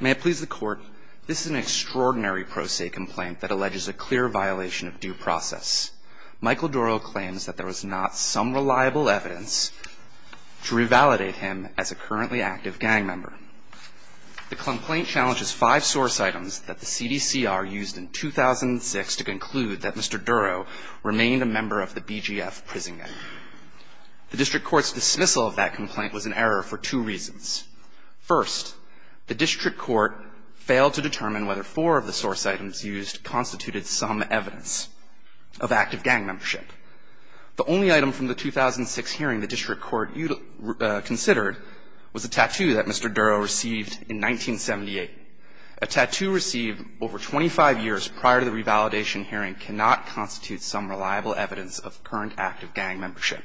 May it please the court, this is an extraordinary pro se complaint that alleges a clear violation of due process. Michael Dorrough claims that there was not some reliable evidence to revalidate him as a currently active gang member. The complaint challenges five source items that the CDCR used in 2006 to conclude that Mr. Dorrough remained a member of the BGF prison gang. The district court's dismissal of that complaint was an error for two reasons. First, the district court failed to determine whether four of the source items used constituted some evidence of active gang membership. The only item from the 2006 hearing the district court considered was a tattoo that Mr. Dorrough received in 1978. A tattoo received over 25 years prior to the revalidation hearing cannot constitute some reliable evidence of current active gang membership.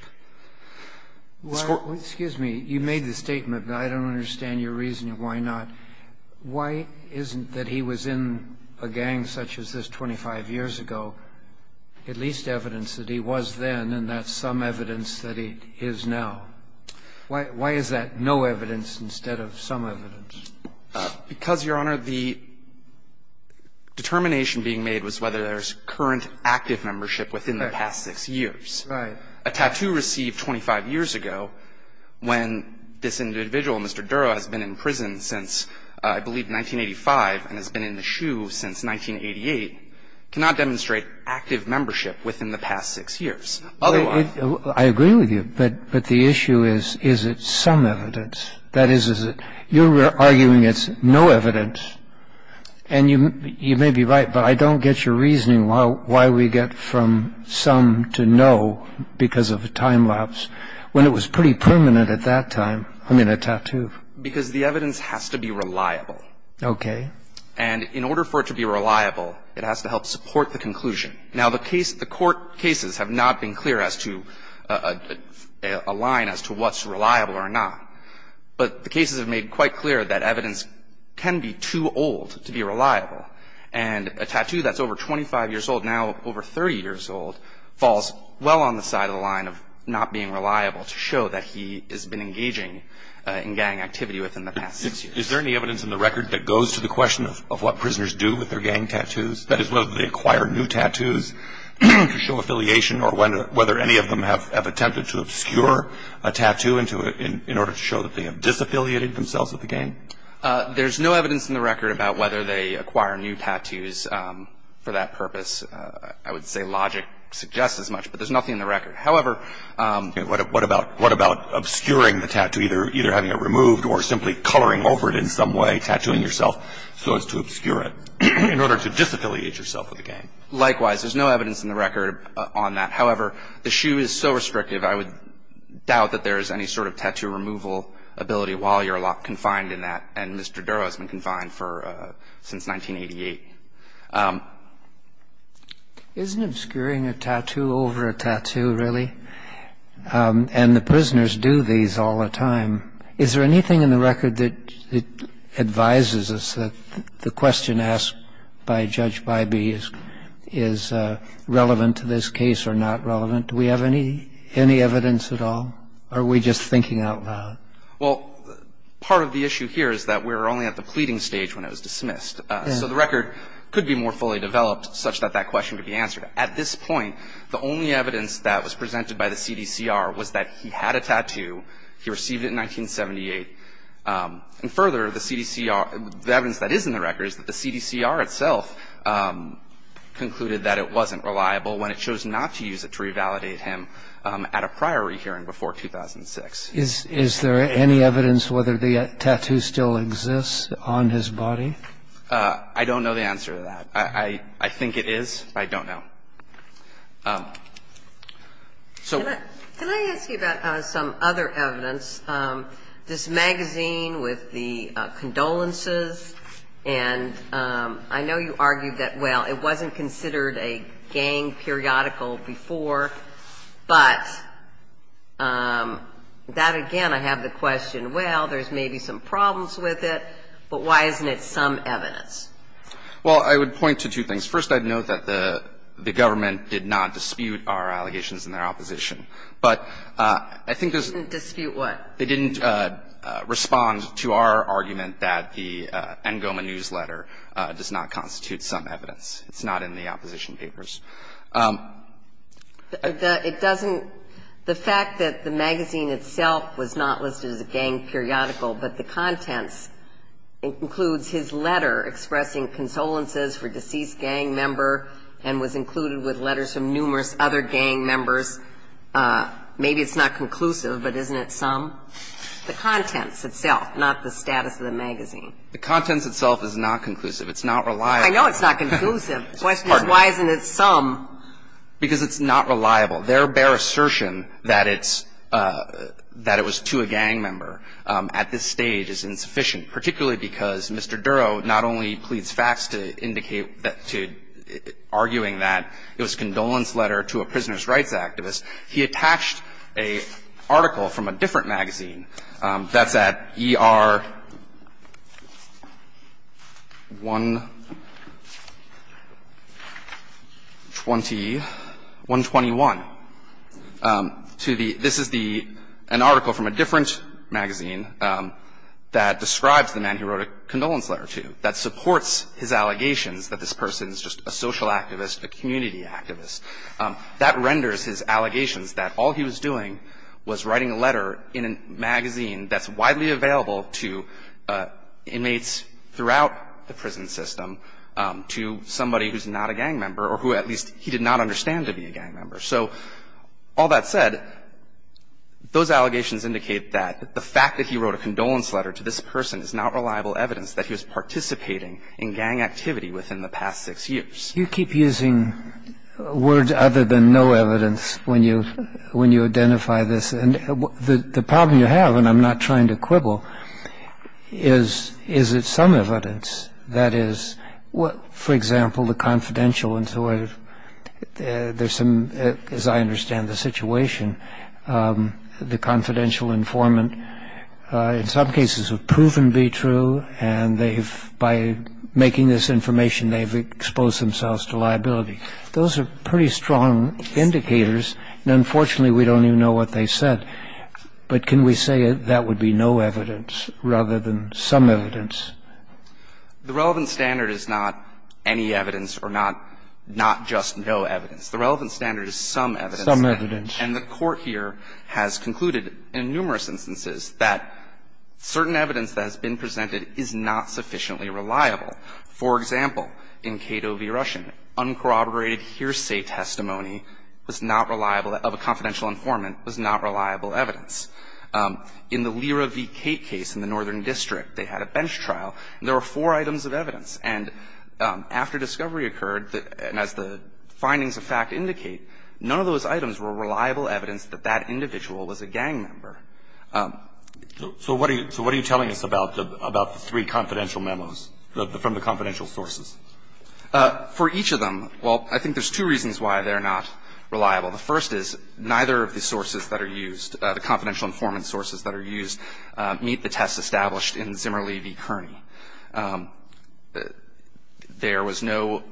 This court ---- Well, excuse me. You made the statement, but I don't understand your reasoning why not. Why isn't that he was in a gang such as this 25 years ago at least evidence that he was then and that some evidence that he is now? Why is that no evidence instead of some evidence? Because, Your Honor, the determination being made was whether there's current active membership within the past six years. Right. A tattoo received 25 years ago when this individual, Mr. Dorrough, has been in prison since I believe 1985 and has been in the SHU since 1988 cannot demonstrate active membership within the past six years. Otherwise ---- I agree with you. But the issue is, is it some evidence? That is, you're arguing it's no evidence. And you may be right, but I don't get your reasoning why we get from some to no because of a time lapse when it was pretty permanent at that time. I mean, a tattoo. Because the evidence has to be reliable. Okay. And in order for it to be reliable, it has to help support the conclusion. Now, the court cases have not been clear as to a line as to what's reliable or not. But the cases have made quite clear that evidence can be too old to be reliable. And a tattoo that's over 25 years old now, over 30 years old, falls well on the side of the line of not being reliable to show that he has been engaging in gang activity within the past six years. Is there any evidence in the record that goes to the question of what prisoners do with their gang tattoos? That is, whether they acquire new tattoos to show affiliation or whether any of them have attempted to obscure a tattoo in order to show that they have disaffiliated themselves with the gang? There's no evidence in the record about whether they acquire new tattoos for that purpose. I would say logic suggests as much. But there's nothing in the record. However, what about obscuring the tattoo, either having it removed or simply coloring over it in some way, tattooing yourself so as to obscure it in order to disaffiliate yourself with the gang? Likewise. There's no evidence in the record on that. However, the shoe is so restrictive, I would doubt that there is any sort of tattoo removal ability while you're locked, confined in that. And Mr. Dura has been confined since 1988. Isn't obscuring a tattoo over a tattoo, really? And the prisoners do these all the time. Is there anything in the record that advises us that the question asked by Judge Bybee is relevant to this case or not relevant? Do we have any evidence at all, or are we just thinking out loud? Well, part of the issue here is that we're only at the pleading stage when it was dismissed. So the record could be more fully developed such that that question could be answered. At this point, the only evidence that was presented by the CDCR was that he had a tattoo, he received it in 1978. And further, the CDCR, the evidence that is in the record is that the CDCR itself concluded that it wasn't reliable when it chose not to use it to revalidate him at a prior rehearing before 2006. Is there any evidence whether the tattoo still exists on his body? I don't know the answer to that. I think it is. I don't know. Can I ask you about some other evidence? This magazine with the condolences, and I know you argued that, well, it wasn't considered a gang periodical before, but that, again, I have the question, well, there's maybe some problems with it, but why isn't it some evidence? Well, I would point to two things. First, I'd note that the government did not dispute our allegations in their opposition. But I think there's – They didn't dispute what? They didn't respond to our argument that the NGOMA newsletter does not constitute some evidence. It's not in the opposition papers. It doesn't – the fact that the magazine itself was not listed as a gang periodical but the contents includes his letter expressing consolences for deceased gang member and was included with letters from numerous other gang members, maybe it's not conclusive, but isn't it some? The contents itself, not the status of the magazine. The contents itself is not conclusive. It's not reliable. I know it's not conclusive. The question is why isn't it some. Because it's not reliable. Their bare assertion that it's – that it was to a gang member at this stage is insufficient, particularly because Mr. Duro not only pleads facts to indicate – to – arguing that it was a condolence letter to a prisoner's rights activist. He attached an article from a different magazine that's at ER 120 – 121 to the – this is the – an article from a different magazine that describes the man who wrote a condolence letter to, that supports his allegations that this person is just a social activist, a community activist. That renders his allegations that all he was doing was writing a letter in a magazine that's widely available to inmates throughout the prison system to somebody who's not a gang member or who at least he did not understand to be a gang member. So all that said, those allegations indicate that the fact that he wrote a condolence letter to this person is not reliable evidence that he was participating in gang activity within the past six years. You keep using words other than no evidence when you – when you identify this. And the problem you have, and I'm not trying to quibble, is – is it some evidence that is, for example, the confidential informant – there's some – as I understand the situation, the confidential informant in some cases have proven to be true and they've – by making this information, they've exposed themselves to liability. Those are pretty strong indicators. And unfortunately, we don't even know what they said. But can we say that would be no evidence rather than some evidence? The relevant standard is not any evidence or not – not just no evidence. The relevant standard is some evidence. Some evidence. And the Court here has concluded in numerous instances that certain evidence that has been presented is not sufficiently reliable. For example, in Cato v. Russian, uncorroborated hearsay testimony was not reliable – of a confidential informant was not reliable evidence. In the Lira v. Kate case in the Northern District, they had a bench trial. There were four items of evidence. And after discovery occurred, and as the findings of fact indicate, none of those items were reliable evidence that that individual was a gang member. So what are you – so what are you telling us about the three confidential memos from the confidential sources? For each of them, well, I think there's two reasons why they're not reliable. The first is neither of the sources that are used, the confidential informant sources that are used, meet the test established in Zimmerle v. Kearney. There was no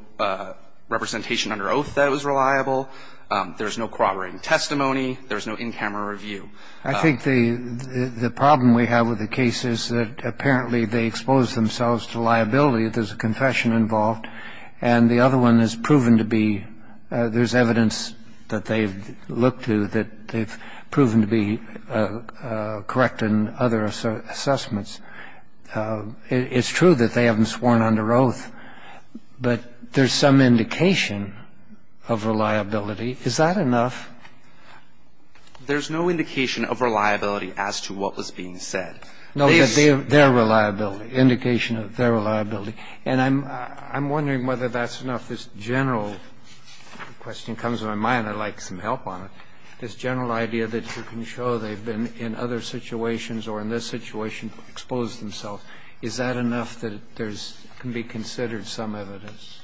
representation under oath that was reliable. There's no corroborating testimony. There's no in-camera review. I think the problem we have with the case is that apparently they expose themselves to liability if there's a confession involved. And the other one is proven to be – there's evidence that they've looked to that they've proven to be correct in other assessments. It's true that they haven't sworn under oath, but there's some indication of reliability. Is that enough? There's no indication of reliability as to what was being said. They have their reliability, indication of their reliability. And I'm wondering whether that's enough. This general question comes to my mind. I'd like some help on it. This general idea that you can show they've been in other situations or in this situation exposed themselves, is that enough that there's – can be considered some evidence?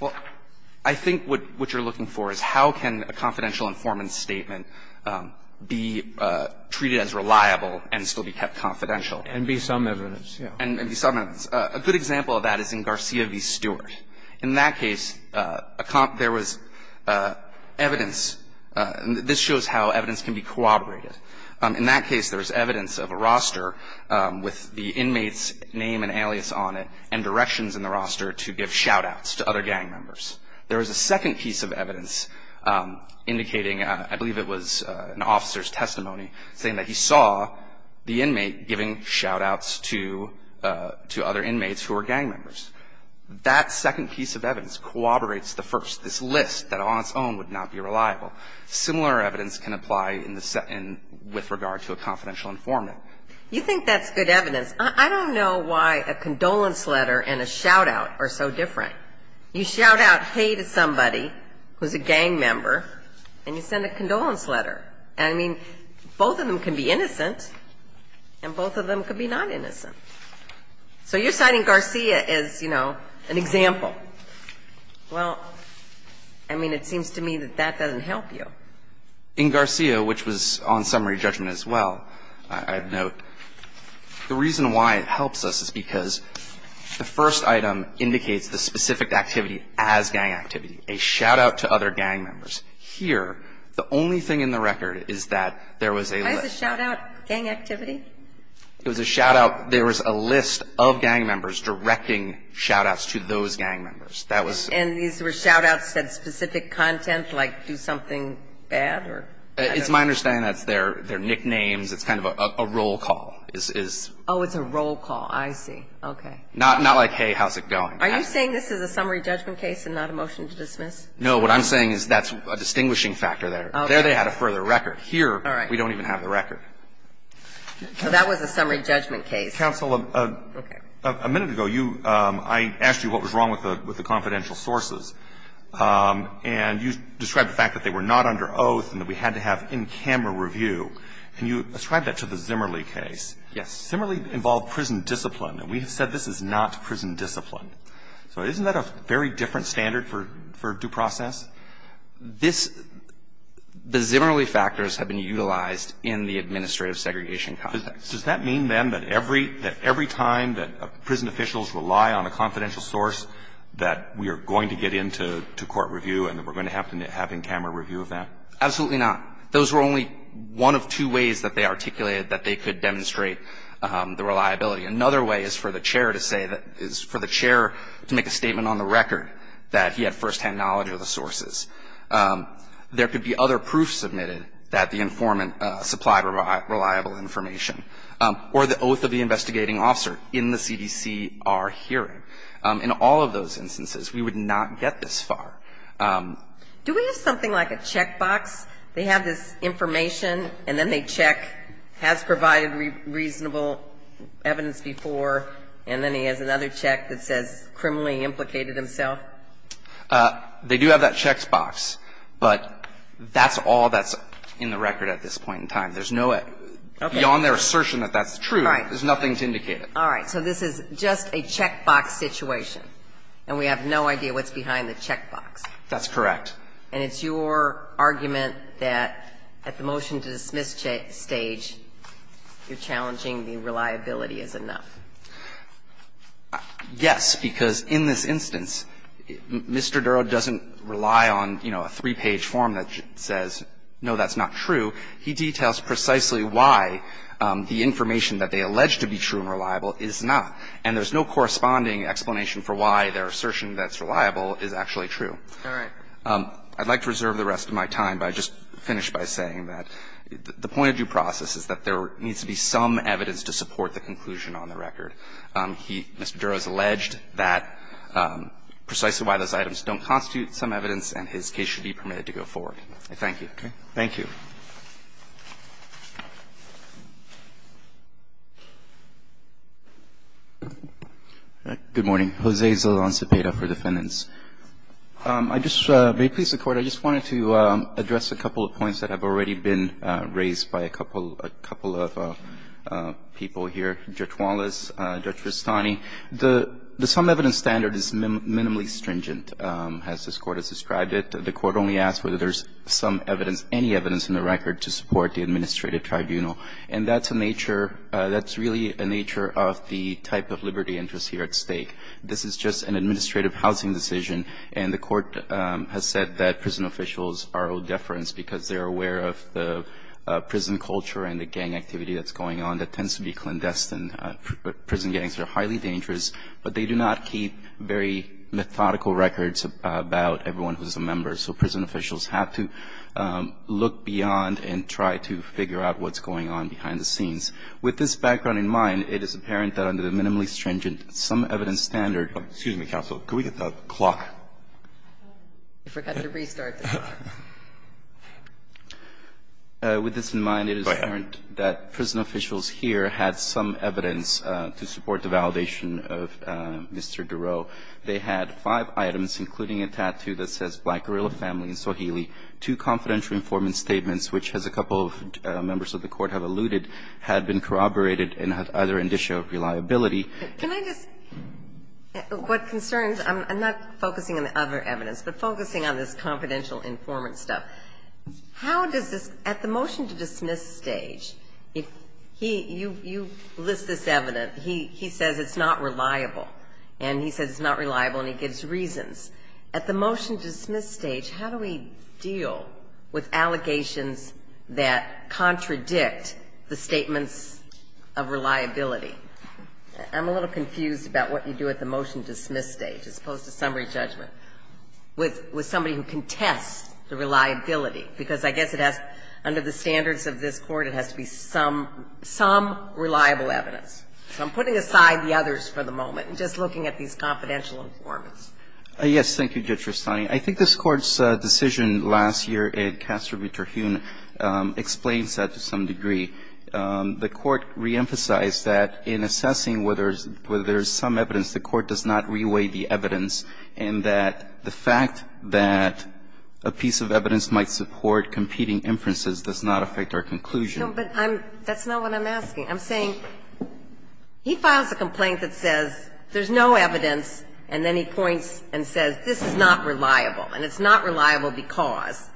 Well, I think what you're looking for is how can a confidential informant's statement be treated as reliable and still be kept confidential. And be some evidence, yes. And be some evidence. A good example of that is in Garcia v. Stewart. In that case, there was evidence. This shows how evidence can be corroborated. In that case, there was evidence of a roster with the inmate's name and alias on it and directions in the roster to give shout-outs to other gang members. There was a second piece of evidence indicating, I believe it was an officer's testimony, saying that he saw the inmate giving shout-outs to other inmates who were gang members. That second piece of evidence corroborates the first, this list that on its own would not be reliable. Similar evidence can apply in the – with regard to a confidential informant. You think that's good evidence. I don't know why a condolence letter and a shout-out are so different. You shout out, hey, to somebody who's a gang member, and you send a condolence letter. I mean, both of them can be innocent, and both of them can be not innocent. So you're citing Garcia as, you know, an example. Well, I mean, it seems to me that that doesn't help you. In Garcia, which was on summary judgment as well, I'd note, the reason all of the evidence points to Garcia as a gang member. The reason why it helps us is because the first item indicates the specific activity as gang activity, a shout-out to other gang members. Here, the only thing in the record is that there was a list. Why is a shout-out gang activity? It was a shout-out. There was a list of gang members directing shout-outs to those gang members. That was – And these were shout-outs that said specific content, like do something bad or – It's my understanding that's their nicknames. It's kind of a roll call. Oh, it's a roll call. I see. Okay. Not like, hey, how's it going. Are you saying this is a summary judgment case and not a motion to dismiss? No. What I'm saying is that's a distinguishing factor there. There they had a further record. Here, we don't even have the record. All right. So that was a summary judgment case. Counsel, a minute ago, you – I asked you what was wrong with the confidential sources. And you described the fact that they were not under oath and that we had to have in-camera review. And you ascribed that to the Zimmerle case. Yes. Zimmerle involved prison discipline. And we have said this is not prison discipline. So isn't that a very different standard for due process? This – the Zimmerle factors have been utilized in the administrative segregation context. Does that mean, then, that every time that prison officials rely on a confidential source, that we are going to get into court review and that we're going to have to have in-camera review of that? Absolutely not. Those were only one of two ways that they articulated that they could demonstrate the reliability. Another way is for the chair to say that – is for the chair to make a statement on the record that he had firsthand knowledge of the sources. There could be other proofs submitted that the informant supplied reliable information. Or the oath of the investigating officer in the CDCR hearing. In all of those instances, we would not get this far. Do we have something like a checkbox? They have this information, and then they check, has provided reasonable evidence before, and then he has another check that says criminally implicated himself? They do have that checkbox. But that's all that's in the record at this point in time. Beyond their assertion that that's true, there's nothing to indicate it. All right. So this is just a checkbox situation, and we have no idea what's behind the checkbox. That's correct. And it's your argument that at the motion-to-dismiss stage, you're challenging the reliability is enough. Yes, because in this instance, Mr. Duro doesn't rely on, you know, a three-page form that says, no, that's not true. He details precisely why the information that they allege to be true and reliable is not. And there's no corresponding explanation for why their assertion that's reliable is actually true. All right. I'd like to reserve the rest of my time by just finishing by saying that the point of due process is that there needs to be some evidence to support the conclusion on the record. Mr. Duro has alleged that precisely why those items don't constitute some evidence, and his case should be permitted to go forward. I thank you. Okay. Thank you. Good morning. Jose Zaldan Cepeda for defendants. May it please the Court, I just wanted to address a couple of points that have already been raised by a couple of people here, Judge Wallace, Judge Rustani. The sum evidence standard is minimally stringent, as this Court has described it. The Court only asks whether there's some evidence, any evidence in the record to support the administrative tribunal. And that's a nature, that's really a nature of the type of liberty interest here at stake. This is just an administrative housing decision, and the Court has said that prison officials are of deference because they're aware of the prison culture and the gang activity that's going on that tends to be clandestine. Prison gangs are highly dangerous, but they do not keep very methodical records about everyone who's a member. So prison officials have to look beyond and try to figure out what's going on behind the scenes. With this background in mind, it is apparent that under the minimally stringent sum evidence standard. Excuse me, counsel. Could we get the clock? I forgot to restart. With this in mind, it is apparent that prison officials here had some evidence to support the validation of Mr. Duro. They had five items, including a tattoo that says Black Gorilla Family in Sohili, two confidential informant statements, which, as a couple of members of the Court have alluded, had been corroborated and had other indicia of reliability. Can I just? What concerns me, I'm not focusing on the other evidence, but focusing on this confidential informant stuff. How does this, at the motion to dismiss stage, if he, you list this evidence. He says it's not reliable. And he says it's not reliable, and he gives reasons. At the motion to dismiss stage, how do we deal with allegations that contradict the statements of reliability? I'm a little confused about what you do at the motion to dismiss stage, as opposed to summary judgment, with somebody who contests the reliability. Because I guess it has, under the standards of this Court, it has to be some reliable evidence. So I'm putting aside the others for the moment and just looking at these confidential informants. Yes. Thank you, Judge Tristani. I think this Court's decision last year in Castro v. Terhune explains that to some degree. The Court reemphasized that in assessing whether there is some evidence, the Court does not reweigh the evidence, and that the fact that a piece of evidence might support competing inferences does not affect our conclusion. No, but that's not what I'm asking. I'm saying, he files a complaint that says there's no evidence, and then he points and says this is not reliable, and it's not reliable because.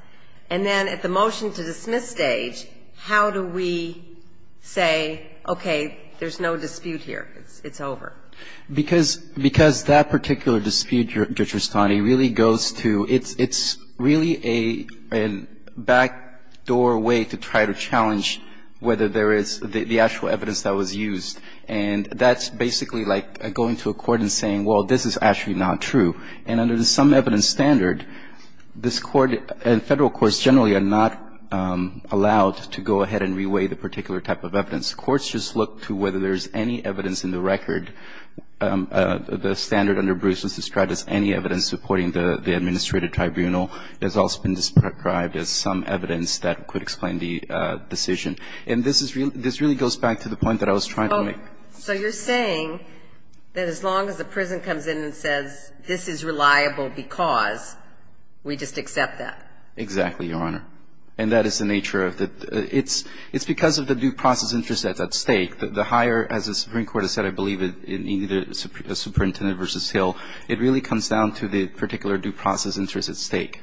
And then at the motion to dismiss stage, how do we say, okay, there's no dispute here, it's over? Because that particular dispute, Judge Tristani, really goes to, it's really a backdoor way to try to challenge whether there is the actual evidence that was used. And that's basically like going to a court and saying, well, this is actually not true. And under the some evidence standard, this Court and Federal courts generally are not allowed to go ahead and reweigh the particular type of evidence. Courts just look to whether there's any evidence in the record. The standard under Bruce was described as any evidence supporting the administrative tribunal. It has also been described as some evidence that could explain the decision. And this is really goes back to the point that I was trying to make. Oh, so you're saying that as long as the prison comes in and says this is reliable because, we just accept that? Exactly, Your Honor. And that is the nature of the – it's because of the due process interest that's at stake. The higher, as the Supreme Court has said, I believe, in either the Superintendent v. Hill, it really comes down to the particular due process interest at stake.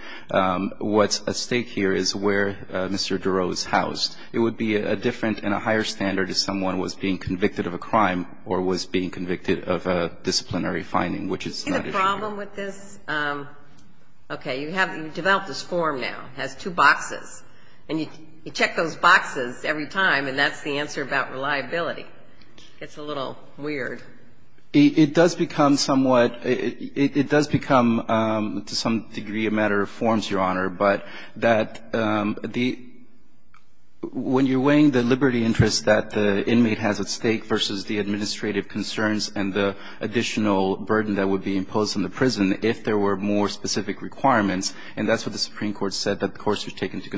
What's at stake here is where Mr. Duro is housed. It would be a different and a higher standard if someone was being convicted of a crime or was being convicted of a disciplinary finding, which is not at stake. Do you see the problem with this? Okay. You have – you developed this form now. It has two boxes. And you check those boxes every time, and that's the answer about reliability. It's a little weird. It does become somewhat – it does become, to some degree, a matter of forms, Your Honor, but that the – when you're weighing the liberty interest that the inmate has at stake versus the administrative concerns and the additional burden that would be imposed on the prison if there were more specific requirements – and that's what the Supreme Court said, that the courts should take into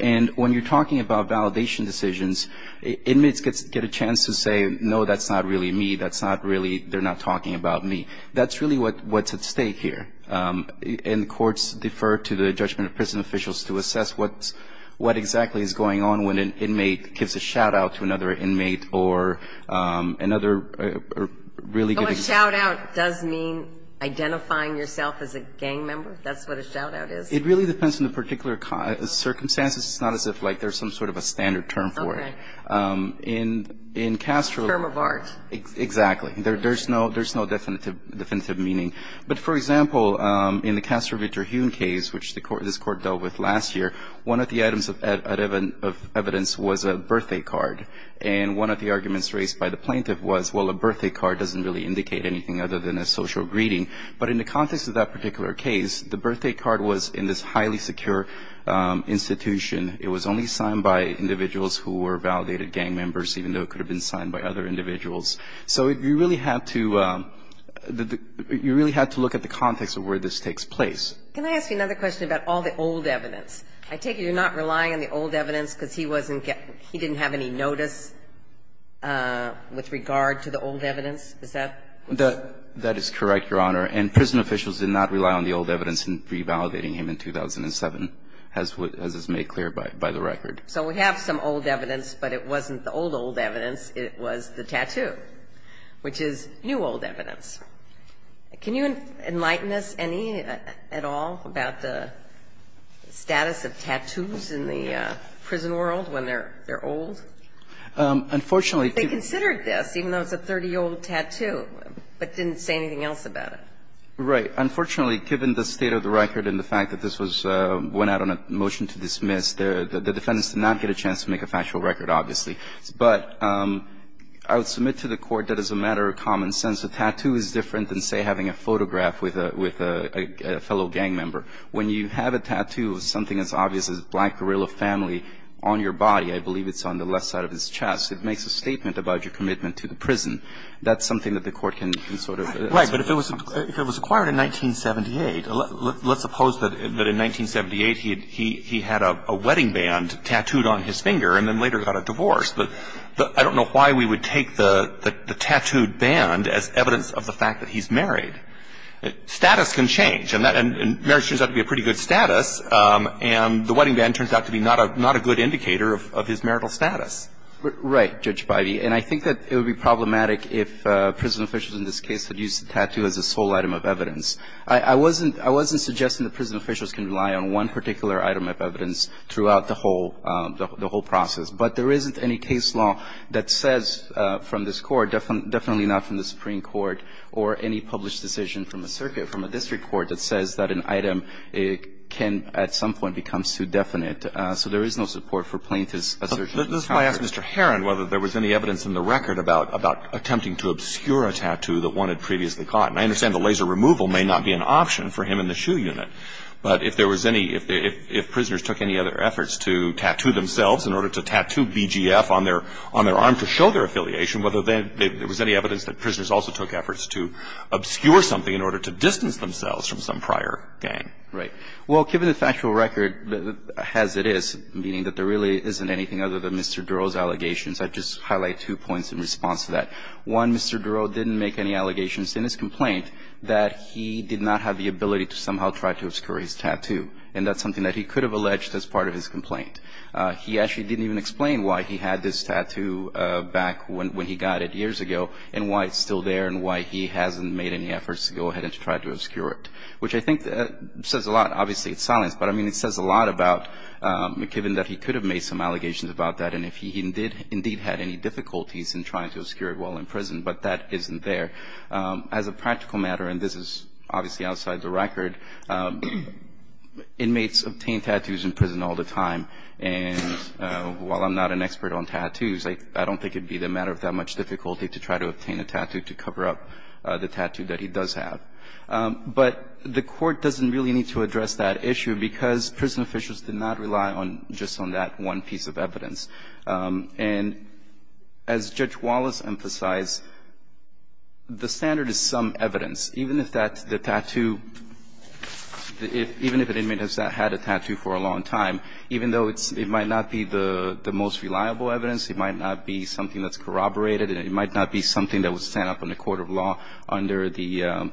And when you're talking about validation decisions, inmates get a chance to say, No, that's not really me. That's not really – they're not talking about me. That's really what's at stake here. And the courts defer to the judgment of prison officials to assess what exactly is going on when an inmate gives a shout-out to another inmate or another really good inmate. Oh, a shout-out does mean identifying yourself as a gang member? That's what a shout-out is? It really depends on the particular circumstances. It's not as if, like, there's some sort of a standard term for it. Okay. In Castro – A term of art. Exactly. There's no definitive meaning. But, for example, in the Castro v. Terhune case, which this Court dealt with last year, one of the items of evidence was a birthday card. And one of the arguments raised by the plaintiff was, well, a birthday card doesn't really indicate anything other than a social greeting. But in the context of that particular case, the birthday card was in this highly secure institution. It was only signed by individuals who were validated gang members, even though it could have been signed by other individuals. So you really have to – you really have to look at the context of where this takes place. Can I ask you another question about all the old evidence? I take it you're not relying on the old evidence because he wasn't – he didn't have any notice with regard to the old evidence? Is that – That is correct, Your Honor. And prison officials did not rely on the old evidence in revalidating him in 2007, as is made clear by the record. So we have some old evidence, but it wasn't the old, old evidence. It was the tattoo, which is new, old evidence. Can you enlighten us any at all about the status of tattoos in the prison world when they're old? Unfortunately – They considered this, even though it's a 30-year-old tattoo, but didn't say anything else about it. Right. Unfortunately, given the state of the record and the fact that this was – went out on a motion to dismiss, the defendants did not get a chance to make a factual record, obviously. But I would submit to the Court that as a matter of common sense, a tattoo is different than, say, having a photograph with a fellow gang member. When you have a tattoo of something as obvious as a black gorilla family on your body, I believe it's on the left side of his chest, it makes a statement about your commitment to the prison. That's something that the Court can sort of – Right. But if it was acquired in 1978 – let's suppose that in 1978 he had a wedding band tattooed on his finger and then later got a divorce. But I don't know why we would take the tattooed band as evidence of the fact that he's married. Status can change. And marriage turns out to be a pretty good status, and the wedding band turns out to be not a good indicator of his marital status. Right, Judge Bidey. And I think that it would be problematic if prison officials in this case had used the tattoo as a sole item of evidence. I wasn't suggesting that prison officials can rely on one particular item of evidence throughout the whole process. But there isn't any case law that says from this Court, definitely not from the Supreme Court, or any published decision from a circuit, from a district court that says that an item can at some point become suedefinite. So there is no support for plaintiff's assertion of power. This is why I asked Mr. Heron whether there was any evidence in the record about attempting to obscure a tattoo that one had previously caught. And I understand the laser removal may not be an option for him in the SHU unit. But if there was any – if prisoners took any other efforts to tattoo themselves in order to tattoo BGF on their arm to show their affiliation, whether there was any evidence that prisoners also took efforts to obscure something in order to distance themselves from some prior gang? Right. Well, given the factual record as it is, meaning that there really isn't anything other than Mr. Durow's allegations, I'd just highlight two points in response to that. One, Mr. Durow didn't make any allegations in his complaint that he did not have the ability to somehow try to obscure his tattoo. And that's something that he could have alleged as part of his complaint. He actually didn't even explain why he had this tattoo back when he got it years ago and why it's still there and why he hasn't made any efforts to go ahead and just try to obscure it, which I think says a lot. Obviously, it's silence. But, I mean, it says a lot about – given that he could have made some allegations about that and if he indeed had any difficulties in trying to obscure it while in prison, but that isn't there. As a practical matter, and this is obviously outside the record, inmates obtain tattoos in prison all the time. And while I'm not an expert on tattoos, I don't think it would be the matter of that much difficulty to try to obtain a tattoo to cover up the tattoo that he does have. But the Court doesn't really need to address that issue because prison officials did not rely on – just on that one piece of evidence. And as Judge Wallace emphasized, the standard is some evidence. Even if that – the tattoo – even if an inmate has had a tattoo for a long time, even though it's – it might not be the most reliable evidence, it might not be something that's corroborated, it might not be something that would stand up in the court of law under the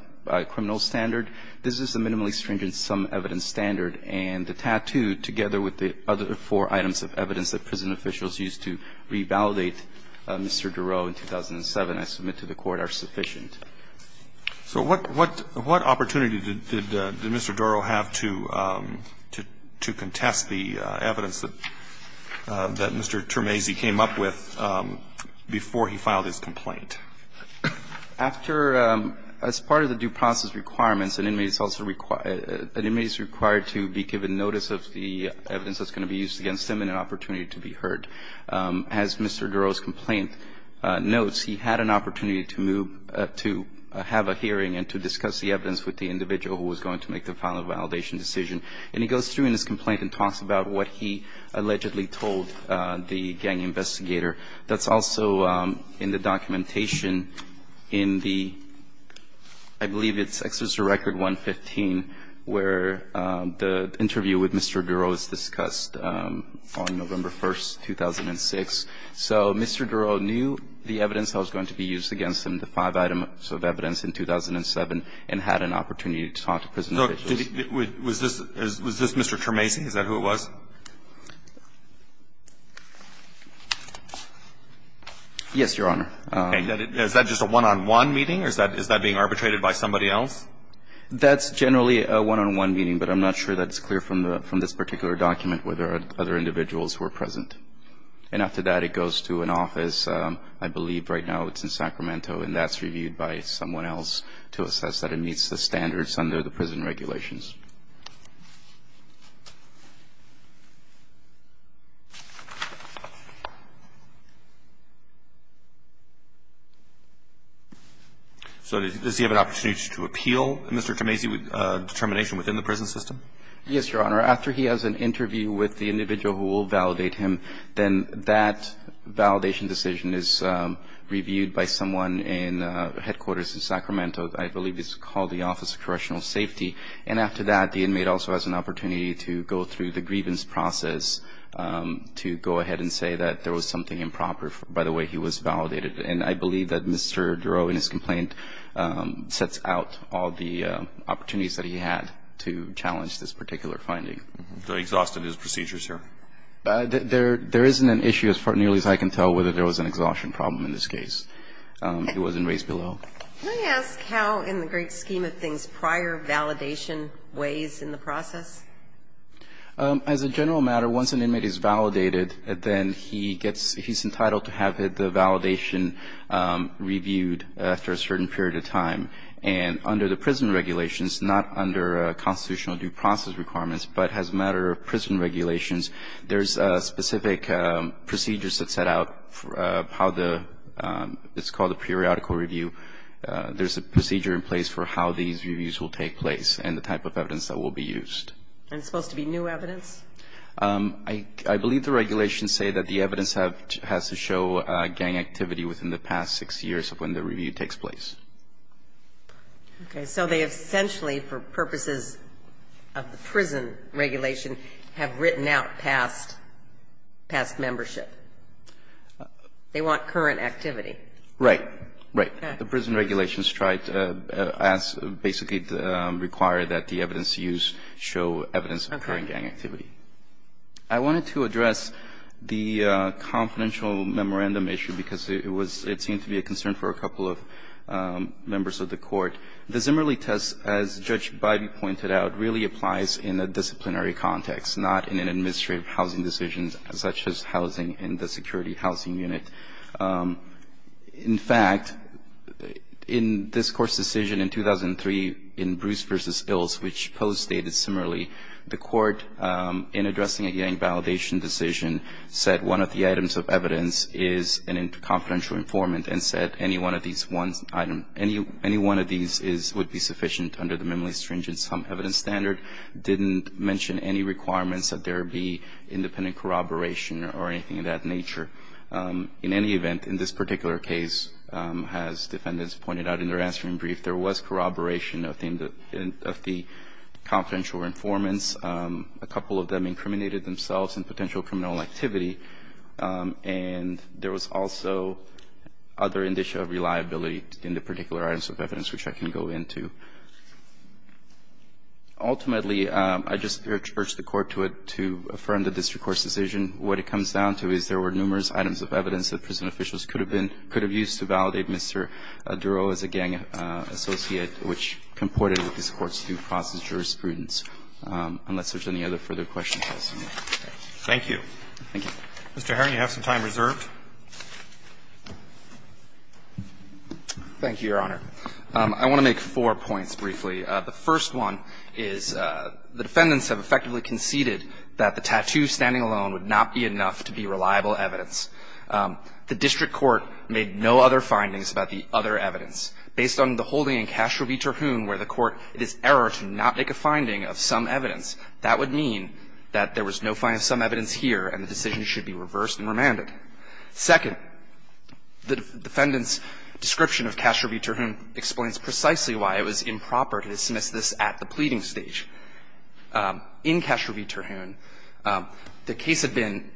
criminal standard, this is a minimally stringent some evidence standard, and the tattoo, together with the other four items of evidence that prison officials used to revalidate Mr. Durow in 2007, I submit to the Court, are sufficient. So what – what opportunity did Mr. Durow have to contest the evidence that Mr. Termese came up with before he filed his complaint? After – as part of the due process requirements, an inmate is also – an inmate is required to be given notice of the evidence that's going to be used against them and an opportunity to be heard. As Mr. Durow's complaint notes, he had an opportunity to move – to have a hearing and to discuss the evidence with the individual who was going to make the final validation decision. And he goes through in his complaint and talks about what he allegedly told the gang investigator. That's also in the documentation in the – I believe it's Executive Record 115, where the interview with Mr. Durow is discussed on November 1st, 2006. So Mr. Durow knew the evidence that was going to be used against him, the five items of evidence in 2007, and had an opportunity to talk to prison officials. So was this – was this Mr. Termese? Is that who it was? Yes, Your Honor. Okay. Is that just a one-on-one meeting, or is that – is that being arbitrated by somebody else? That's generally a one-on-one meeting, but I'm not sure that's clear from the – from this particular document whether other individuals were present. And after that, it goes to an office. I believe right now it's in Sacramento, and that's reviewed by someone else to assess that it meets the standards under the prison regulations. So does he have an opportunity to appeal Mr. Termese's determination within the prison system? Yes, Your Honor. After he has an interview with the individual who will validate him, then that validation decision is reviewed by someone in headquarters in Sacramento. So I believe this is called the Office of Correctional Safety. And after that, the inmate also has an opportunity to go through the grievance process to go ahead and say that there was something improper. By the way, he was validated. And I believe that Mr. Durow, in his complaint, sets out all the opportunities that he had to challenge this particular finding. So he exhausted his procedure, sir? There isn't an issue as nearly as I can tell whether there was an exhaustion problem in this case. It wasn't raised below. Can I ask how, in the great scheme of things, prior validation weighs in the process? As a general matter, once an inmate is validated, then he gets he's entitled to have the validation reviewed after a certain period of time. And under the prison regulations, not under constitutional due process requirements, but as a matter of prison regulations, there's specific procedures that set out how it's called a periodical review. There's a procedure in place for how these reviews will take place and the type of evidence that will be used. And it's supposed to be new evidence? I believe the regulations say that the evidence has to show gang activity within the past six years of when the review takes place. Okay. So they essentially, for purposes of the prison regulation, have written out past membership. They want current activity. Right. Right. The prison regulations try to ask, basically require that the evidence used show evidence of current gang activity. Okay. I wanted to address the confidential memorandum issue because it was, it seemed to be a concern for a couple of members of the Court. The Zimmerli test, as Judge Bybee pointed out, really applies in a disciplinary context, not in an administrative housing decision such as housing in the security housing unit. In fact, in this Court's decision in 2003 in Bruce v. Ilse, which posed data similarly, the Court, in addressing a gang validation decision, said one of the items of evidence is a confidential informant and said any one of these would be sufficient under the minimally stringent sum evidence standard, didn't mention any requirements that there be independent corroboration or anything of that nature. In any event, in this particular case, as defendants pointed out in their answering brief, there was corroboration of the confidential informants. A couple of them incriminated themselves in potential criminal activity, and there was also other indicia of reliability in the particular items of evidence which I can go into. Ultimately, I just urge the Court to affirm the district court's decision. What it comes down to is there were numerous items of evidence that prison officials could have been, could have used to validate Mr. Duro as a gang associate, which comported with this Court's due process jurisprudence, unless there's any other further questions. Roberts. Thank you. Thank you. Mr. Herron, you have some time reserved. Thank you, Your Honor. I want to make four points briefly. The first one is the defendants have effectively conceded that the tattoo standing alone would not be enough to be reliable evidence. The district court made no other findings about the other evidence. Based on the holding in Castro v. Terhune where the court, it is error to not make a finding of some evidence, that would mean that there was no finding of some evidence here and the decision should be reversed and remanded. Second, the defendant's description of Castro v. Terhune explains precisely why it was improper to dismiss this at the pleading stage. In Castro v. Terhune, the case had been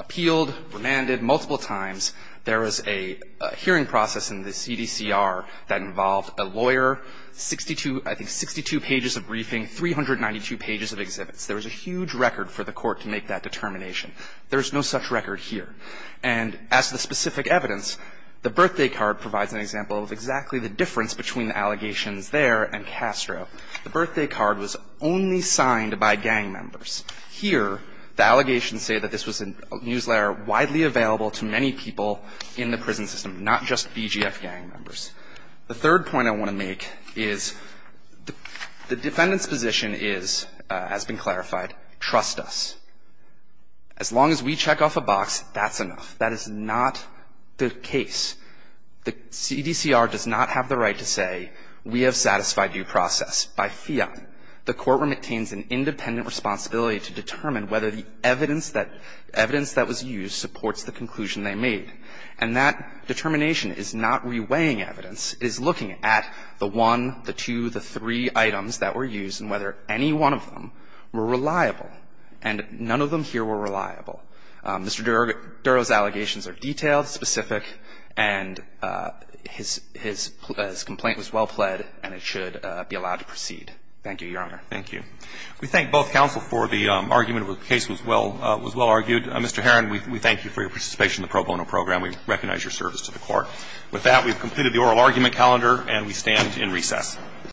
appealed, remanded multiple times. There was a hearing process in the CDCR that involved a lawyer, 62, I think 62 pages of briefing, 392 pages of exhibits. There was a huge record for the Court to make that determination. There is no such record here. And as to the specific evidence, the birthday card provides an example of exactly the difference between the allegations there and Castro. The birthday card was only signed by gang members. Here, the allegations say that this was a newsletter widely available to many people in the prison system, not just BGF gang members. The third point I want to make is the defendant's position is, as has been clarified, trust us. As long as we check off a box, that's enough. That is not the case. The CDCR does not have the right to say, we have satisfied due process. By fiat, the courtroom obtains an independent responsibility to determine whether the evidence that was used supports the conclusion they made. And that determination is not reweighing evidence. It is looking at the one, the two, the three items that were used and whether any one of them were reliable. And none of them here were reliable. Mr. Duro's allegations are detailed, specific, and his complaint was well-pled, and it should be allowed to proceed. Thank you, Your Honor. Thank you. We thank both counsel for the argument where the case was well argued. Mr. Herron, we thank you for your participation in the pro bono program. We recognize your service to the Court. With that, we've completed the oral argument calendar, and we stand in recess.